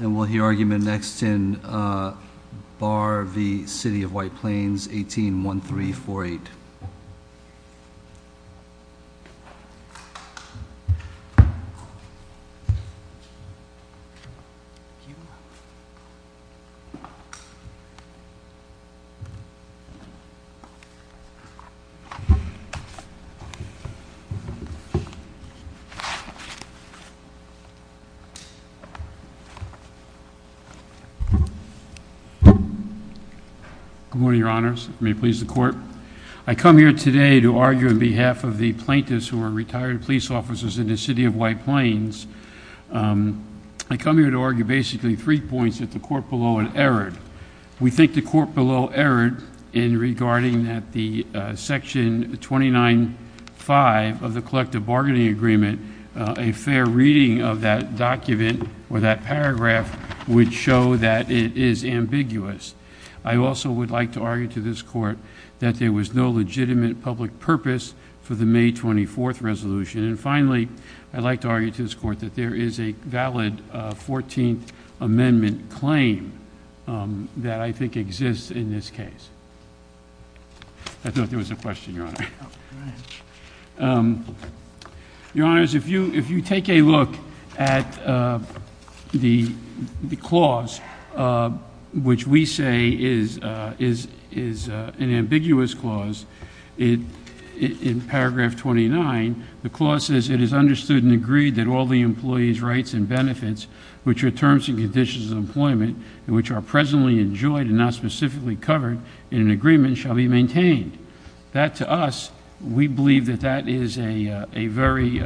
And we'll hear argument next in Barr v. City of White Plains, 18-1348. Good morning, your honors. May it please the court. I come here today to argue on behalf of the plaintiffs who are retired police officers in the City of White Plains. I come here to argue basically three points that the court below had erred. We think the court below erred in regarding that the section 29-5 of the collective bargaining agreement, a fair reading of that document or that paragraph would show that it is ambiguous. I also would like to argue to this court that there was no legitimate public purpose for the May 24th resolution. And finally, I'd like to argue to this court that there is a valid 14th amendment claim that I think exists in this case. Your honors, if you take a look at the clause which we say is an ambiguous clause in paragraph 29, the clause says it is understood and agreed that all the employees' rights and benefits which are terms and conditions of employment and which are presently enjoyed and not specifically covered in an agreement shall be maintained. That to us, we believe that that is a very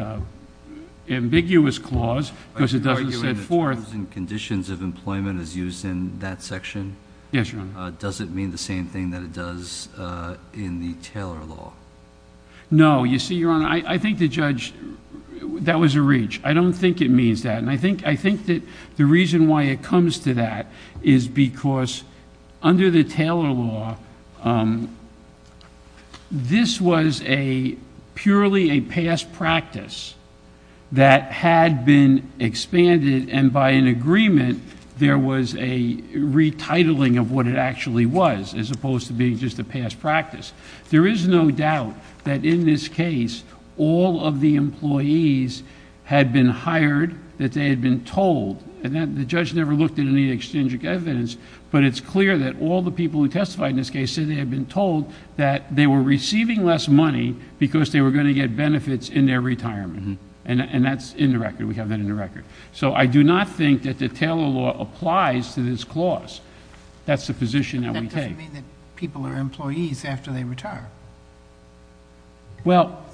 ambiguous clause because it doesn't set forth... Are you arguing that terms and conditions of employment is used in that section? Yes, your honor. Does it mean the same thing that it does in the Taylor law? No. You see, your honor, I think the judge... that was a reach. I don't think it means that. And I think that the reason why it comes to that is because under the Taylor law, this was a purely a past practice that had been expanded and by an agreement, there was a retitling of what it actually was as opposed to being just a past practice. There is no doubt that in this case, all of the employees had been hired that they had been told. And the judge never looked at any extinguished evidence, but it's clear that all the people who testified in this case said they had been told that they were receiving less money because they were going to get benefits in their retirement. And that's in the record. We have that in the record. So I do not think that the Taylor law applies to this clause. That's the position that we take. Does that mean that people are employees after they retire? Well,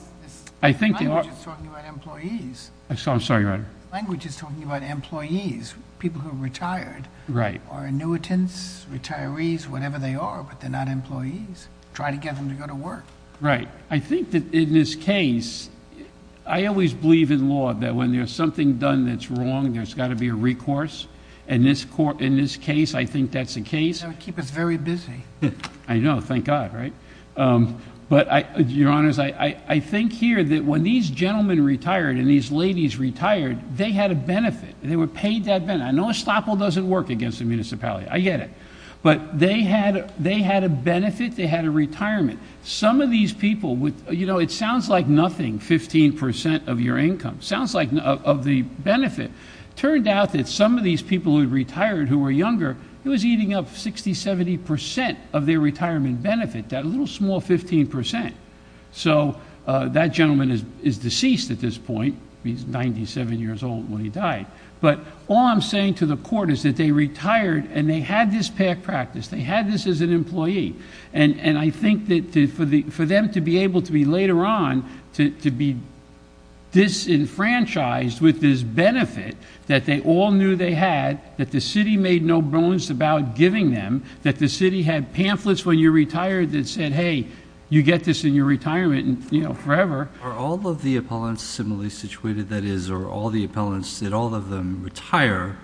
I think... The language is talking about employees. I'm sorry, your honor. The language is talking about employees, people who are retired. Right. Or annuitants, retirees, whatever they are, but they're not employees. Try to get them to go to work. Right. I think that in this case... I always believe in law that when there's something done that's wrong, there's got to be a recourse. In this case, I think that's the case. That would keep us very busy. I know. Thank God, right? But, your honors, I think here that when these gentlemen retired and these ladies retired, they had a benefit. They were paid that benefit. I know estoppel doesn't work against the municipality. I get it. But they had a benefit. They had a retirement. Some of these people with... You know, it sounds like nothing, 15 percent of your income. Sounds like... of the benefit. It turned out that some of these people who had retired who were younger, it was eating up 60, 70 percent of their retirement benefit. That little small 15 percent. So, that gentleman is deceased at this point. He's 97 years old when he died. But, all I'm saying to the court is that they retired and they had this paid practice. They had this as an employee. And, I think that for them to be able to be later on, to be disenfranchised with this benefit that they all knew they had, that the city made no bones about giving them, that the city had pamphlets when you retired that said, hey, you get this in your retirement forever. Are all of the appellants similarly situated? That is, are all the appellants, did all of them retire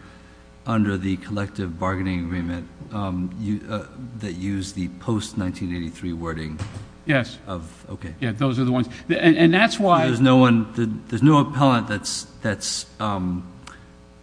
under the collective bargaining agreement that used the post-1983 wording? Yes. Okay. Yeah, those are the ones. And, that's why... There's no one... there's no appellant that's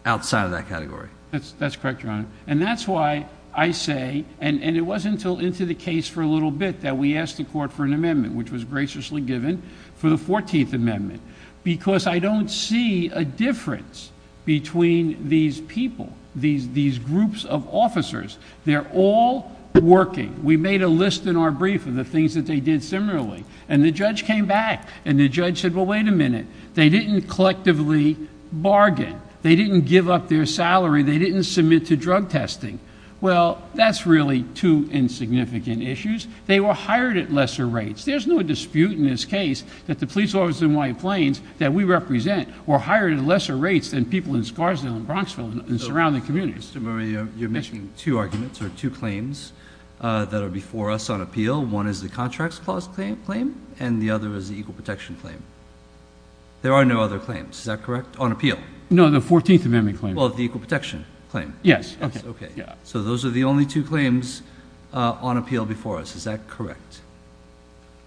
outside of that category. That's correct, Your Honor. And, that's why I say, and it wasn't until into the case for a little bit that we asked the court for an amendment, which was graciously given for the 14th Amendment. Because, I don't see a difference between these people, these groups of officers. They're all working. We made a list in our brief of the things that they did similarly. And, the judge came back. And, the judge said, well, wait a minute. They didn't collectively bargain. They didn't give up their salary. They didn't submit to drug testing. Well, that's really two insignificant issues. They were hired at lesser rates. There's no dispute in this case that the police officers in White Plains that we represent were hired at lesser rates than people in Scarsdale and Bronxville and surrounding communities. Mr. Murray, you're making two arguments or two claims that are before us on appeal. One is the Contracts Clause claim and the other is the Equal Protection claim. There are no other claims. Is that correct? On appeal. No, the 14th Amendment claim. Well, the Equal Protection claim. Yes. Okay. So, those are the only two claims on appeal before us. Is that correct?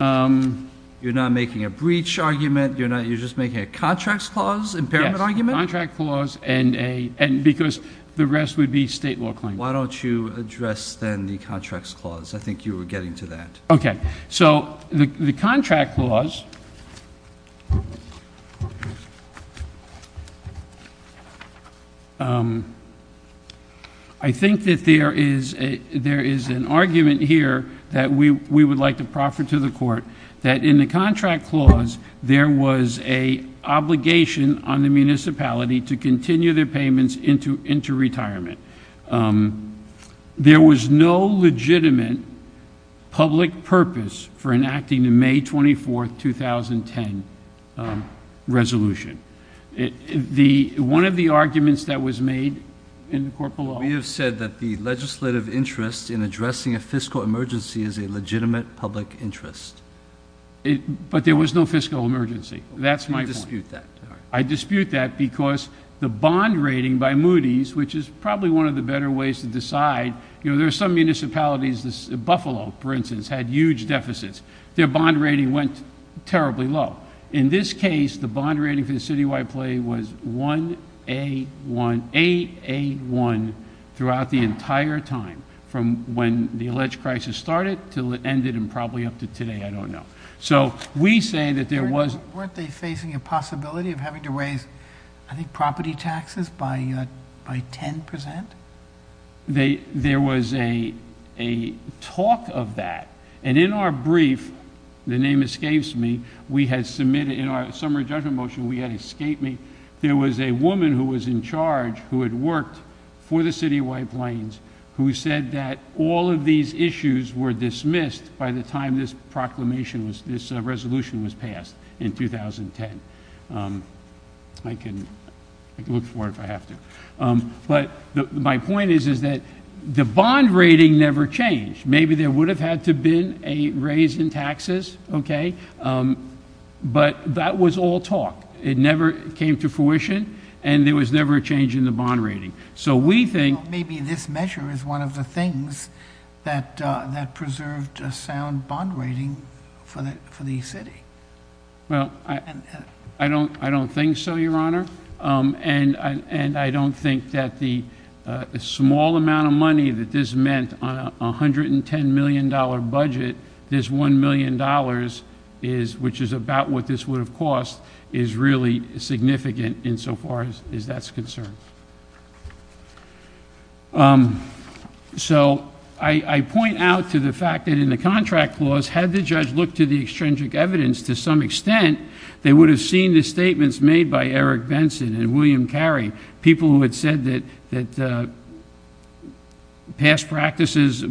You're not making a breach argument? You're just making a Contracts Clause impairment argument? Yes, a Contracts Clause and because the rest would be state law claims. Why don't you address, then, the Contracts Clause? I think you were getting to that. Okay. So, the Contracts Clause, I think that there is an argument here that we would like to proffer to the court that in the Contracts Clause, there was an obligation on the municipality to continue their payments into retirement. There was no legitimate public purpose for enacting the May 24, 2010 resolution. One of the arguments that was made in the court below. We have said that the legislative interest in addressing a fiscal emergency is a legitimate public interest. But there was no fiscal emergency. That's my point. You dispute that. I dispute that because the bond rating by Moody's, which is probably one of the better ways to decide. You know, there are some municipalities, Buffalo, for instance, had huge deficits. Their bond rating went terribly low. In this case, the bond rating for the Citywide Play was 1A1, 8A1, throughout the entire time. From when the alleged crisis started until it ended and probably up to today, I don't know. So, we say that there was. Weren't they facing a possibility of having to raise, I think, property taxes by 10%? There was a talk of that. And in our brief, the name escapes me. We had submitted in our summary judgment motion. We had escaped me. There was a woman who was in charge who had worked for the Citywide Plains who said that all of these issues were dismissed by the time this proclamation, this resolution was passed in 2010. I can look for it if I have to. But my point is that the bond rating never changed. Maybe there would have had to have been a raise in taxes, okay? But that was all talk. It never came to fruition, and there was never a change in the bond rating. Maybe this measure is one of the things that preserved a sound bond rating for the city. Well, I don't think so, Your Honor. And I don't think that the small amount of money that this meant on a $110 million budget, this $1 million, which is about what this would have cost, is really significant insofar as that's concerned. So I point out to the fact that in the contract clause, had the judge looked to the extrinsic evidence to some extent, they would have seen the statements made by Eric Benson and William Carey, people who had said that past practices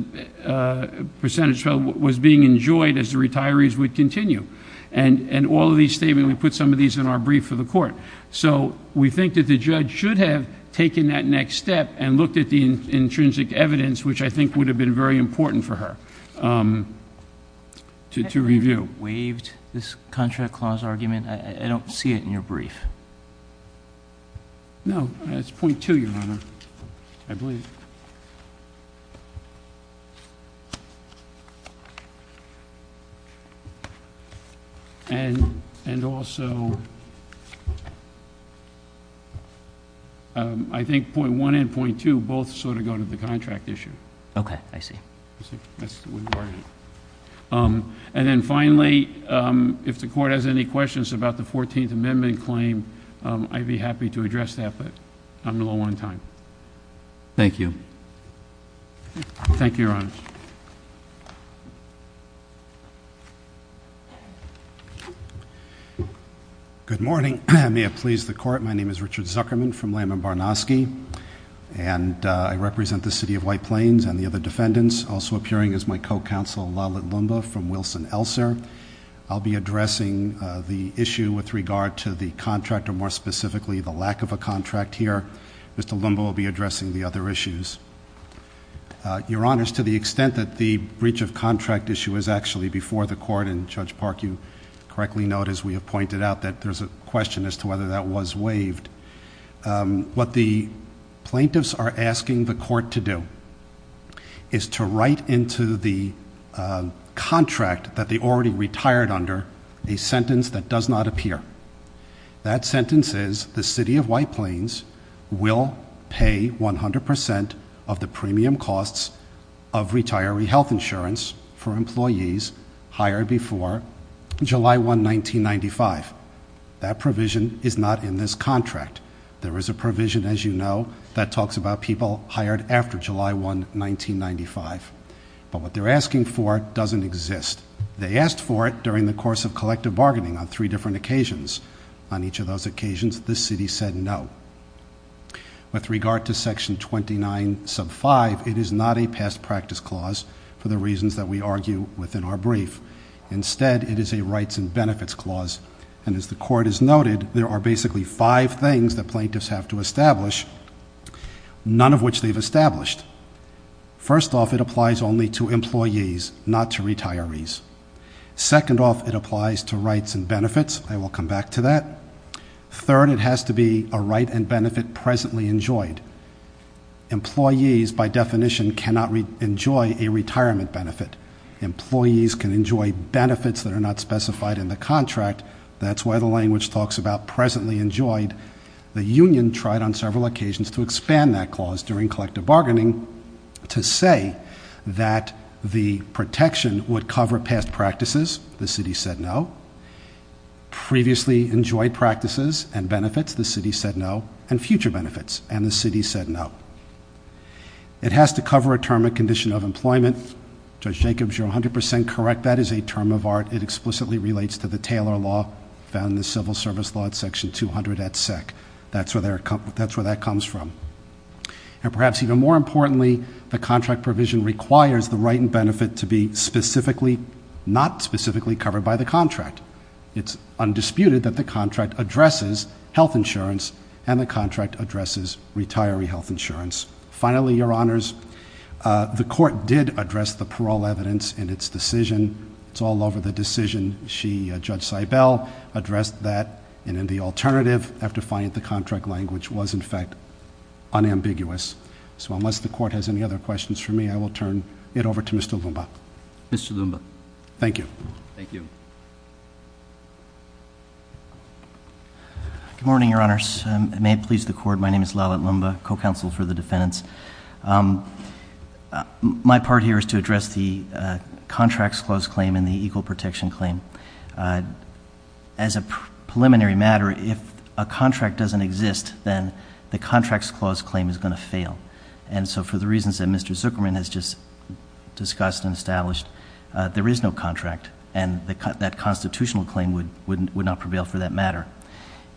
percentage was being enjoyed as the retirees would continue. And all of these statements, we put some of these in our brief for the court. So we think that the judge should have taken that next step and looked at the intrinsic evidence, which I think would have been very important for her to review. I don't know if you ever waived this contract clause argument. I don't see it in your brief. No, it's point two, Your Honor, I believe. And also, I think point one and point two both sort of go to the contract issue. Okay, I see. And then finally, if the court has any questions about the 14th Amendment claim, I'd be happy to address that, but I'm a little on time. Thank you. Thank you, Your Honor. Good morning. May it please the court. My name is Richard Zuckerman from Lamb & Barnosky, and I represent the city of White Plains and the other defendants, also appearing as my co-counsel, Lalit Lumba from Wilson-Elser. I'll be addressing the issue with regard to the contract, or more specifically, the lack of a contract here. Mr. Lumba will be addressing the other issues. Your Honor, to the extent that the breach of contract issue is actually before the court, and Judge Park, you correctly note, as we have pointed out, that there's a question as to whether that was waived, what the plaintiffs are asking the court to do is to write into the contract that they already retired under a sentence that does not appear. That sentence is the city of White Plains will pay 100% of the premium costs of retiree health insurance for employees hired before July 1, 1995. That provision is not in this contract. There is a provision, as you know, that talks about people hired after July 1, 1995. But what they're asking for doesn't exist. They asked for it during the course of collective bargaining on three different occasions. On each of those occasions, the city said no. With regard to section 29 sub 5, it is not a past practice clause for the reasons that we argue within our brief. Instead, it is a rights and benefits clause. And as the court has noted, there are basically five things that plaintiffs have to establish, none of which they've established. First off, it applies only to employees, not to retirees. Second off, it applies to rights and benefits. I will come back to that. Third, it has to be a right and benefit presently enjoyed. Employees, by definition, cannot enjoy a retirement benefit. Employees can enjoy benefits that are not specified in the contract. That's why the language talks about presently enjoyed. The union tried on several occasions to expand that clause during collective bargaining to say that the protection would cover past practices. The city said no. Previously enjoyed practices and benefits, the city said no. And future benefits, and the city said no. It has to cover a term and condition of employment. Judge Jacobs, you're 100% correct. That is a term of art. It explicitly relates to the Taylor Law found in the Civil Service Law at Section 200 at SEC. That's where that comes from. And perhaps even more importantly, the contract provision requires the right and benefit to be specifically, not specifically, covered by the contract. It's undisputed that the contract addresses health insurance, and the contract addresses retiree health insurance. Finally, Your Honors, the court did address the parole evidence in its decision. It's all over the decision. Judge Seibel addressed that, and in the alternative, after finding the contract language was in fact unambiguous. So unless the court has any other questions for me, I will turn it over to Mr. Lumba. Mr. Lumba. Thank you. Thank you. Good morning, Your Honors. May it please the court, my name is Lallet Lumba, co-counsel for the defendants. My part here is to address the Contracts Clause Claim and the Equal Protection Claim. As a preliminary matter, if a contract doesn't exist, then the Contracts Clause Claim is going to fail. And so for the reasons that Mr. Zuckerman has just discussed and established, there is no contract. And that constitutional claim would not prevail for that matter.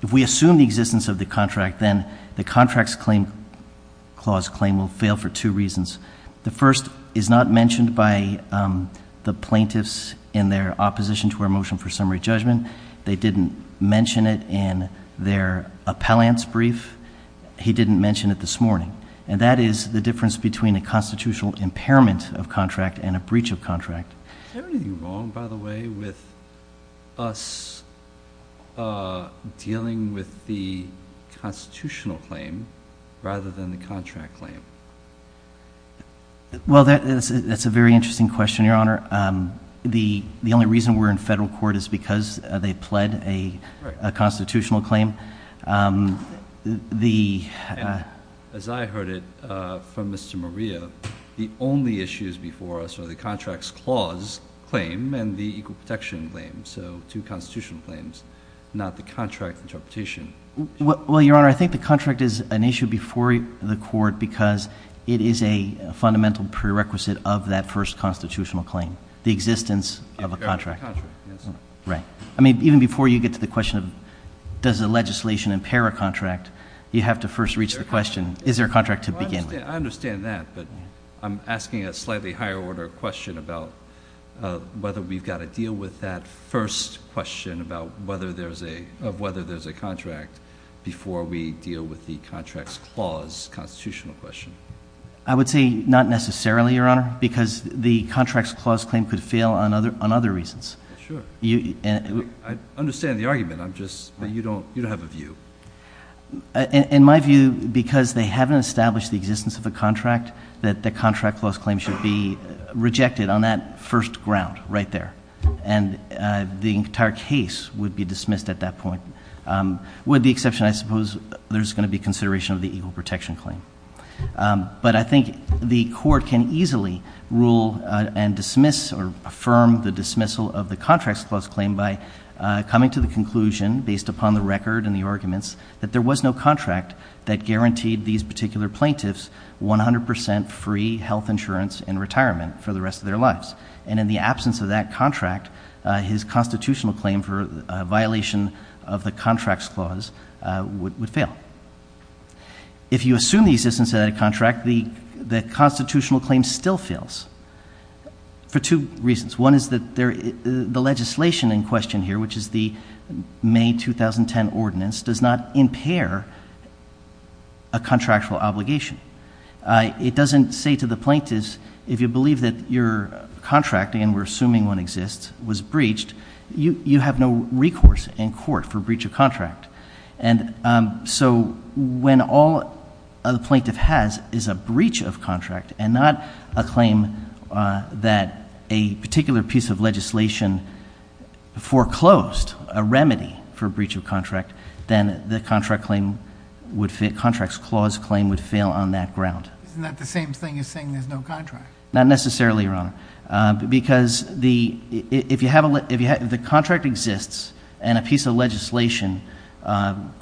If we assume the existence of the contract, then the Contracts Clause Claim will fail for two reasons. The first is not mentioned by the plaintiffs in their opposition to our motion for summary judgment. They didn't mention it in their appellant's brief. He didn't mention it this morning. And that is the difference between a constitutional impairment of contract and a breach of contract. Is there anything wrong, by the way, with us dealing with the constitutional claim rather than the contract claim? Well, that's a very interesting question, Your Honor. The only reason we're in federal court is because they pled a constitutional claim. As I heard it from Mr. Maria, the only issues before us are the Contracts Clause Claim and the Equal Protection Claim. So two constitutional claims, not the contract interpretation. Well, Your Honor, I think the contract is an issue before the court because it is a fundamental prerequisite of that first constitutional claim. The existence of a contract. Right. I mean, even before you get to the question of does the legislation impair a contract, you have to first reach the question, is there a contract to begin with? I understand that, but I'm asking a slightly higher order question about whether we've got to deal with that first question of whether there's a contract before we deal with the Contracts Clause constitutional question. I would say not necessarily, Your Honor, because the Contracts Clause Claim could fail on other reasons. Sure. I understand the argument. I'm just, you don't have a view. In my view, because they haven't established the existence of a contract, that the Contract Clause Claim should be rejected on that first ground right there. And the entire case would be dismissed at that point. With the exception, I suppose, there's going to be consideration of the Equal Protection Claim. But I think the court can easily rule and dismiss or affirm the dismissal of the Contracts Clause Claim by coming to the conclusion, based upon the record and the arguments, that there was no contract that guaranteed these particular plaintiffs 100 percent free health insurance and retirement for the rest of their lives. And in the absence of that contract, his constitutional claim for violation of the Contracts Clause would fail. If you assume the existence of that contract, the constitutional claim still fails for two reasons. One is that the legislation in question here, which is the May 2010 Ordinance, does not impair a contractual obligation. It doesn't say to the plaintiffs, if you believe that your contract, and we're assuming one exists, was breached, you have no recourse in court for breach of contract. And so when all a plaintiff has is a breach of contract and not a claim that a particular piece of legislation foreclosed, a remedy for breach of contract, then the Contracts Clause Claim would fail on that ground. Isn't that the same thing as saying there's no contract? Not necessarily, Your Honor, because if the contract exists and a piece of legislation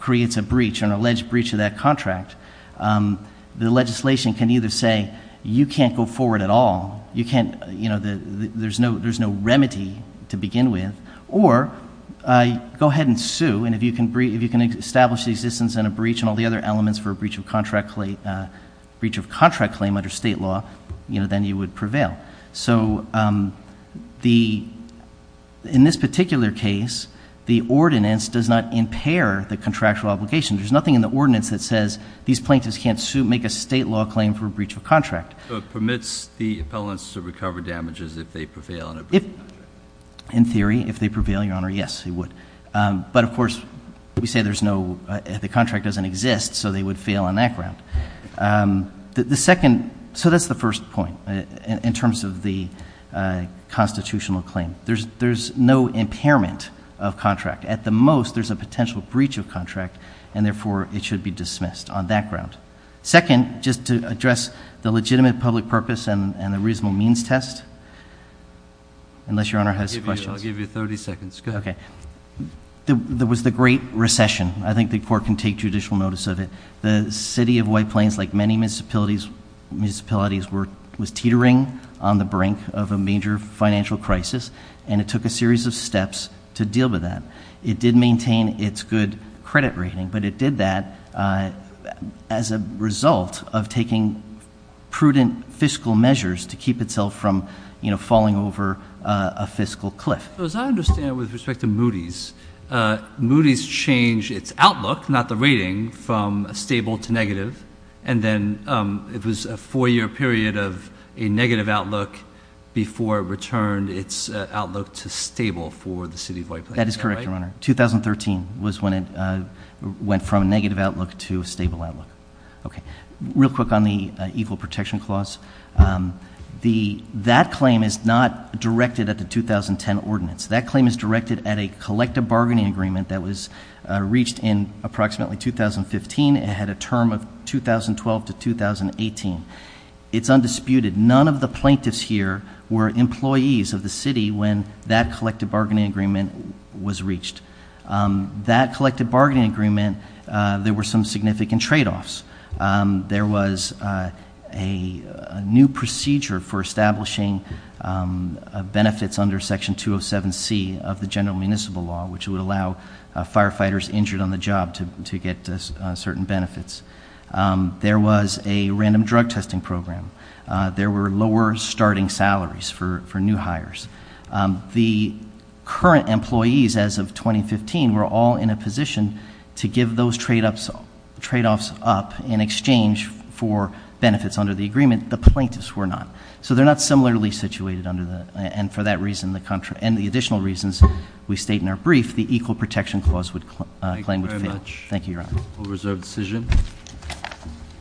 creates a breach, an alleged breach of that contract, the legislation can either say, you can't go forward at all, there's no remedy to begin with, or go ahead and sue. And if you can establish the existence and a breach and all the other elements for a breach of contract claim under state law, then you would prevail. So in this particular case, the ordinance does not impair the contractual obligation. There's nothing in the ordinance that says these plaintiffs can't sue, make a state law claim for a breach of contract. So it permits the appellants to recover damages if they prevail on a breach of contract? In theory, if they prevail, Your Honor, yes, they would. But of course, we say there's no, the contract doesn't exist, so they would fail on that ground. The second, so that's the first point in terms of the constitutional claim. There's no impairment of contract. At the most, there's a potential breach of contract, and therefore it should be dismissed on that ground. Second, just to address the legitimate public purpose and the reasonable means test, unless Your Honor has questions. I'll give you 30 seconds, go ahead. Okay. There was the great recession. I think the court can take judicial notice of it. The city of White Plains, like many municipalities, was teetering on the brink of a major financial crisis. And it took a series of steps to deal with that. It did maintain its good credit rating, but it did that as a result of taking prudent fiscal measures to keep itself from falling over a fiscal cliff. As I understand, with respect to Moody's, Moody's changed its outlook, not the rating, from stable to negative. And then it was a four-year period of a negative outlook before it returned its outlook to stable for the city of White Plains. That is correct, Your Honor. 2013 was when it went from a negative outlook to a stable outlook. Okay. Real quick on the Evil Protection Clause. That claim is not directed at the 2010 ordinance. That claim is directed at a collective bargaining agreement that was reached in approximately 2015. It had a term of 2012 to 2018. It's undisputed. None of the plaintiffs here were employees of the city when that collective bargaining agreement was reached. That collective bargaining agreement, there were some significant trade-offs. There was a new procedure for establishing benefits under Section 207C of the general municipal law, which would allow firefighters injured on the job to get certain benefits. There was a random drug testing program. There were lower starting salaries for new hires. The current employees, as of 2015, were all in a position to give those trade-offs up in exchange for benefits under the agreement. The plaintiffs were not. So they're not similarly situated under that. And for that reason and the additional reasons we state in our brief, the Equal Protection Clause would claim to fail. Thank you very much. Thank you, Your Honor. We'll reserve the decision.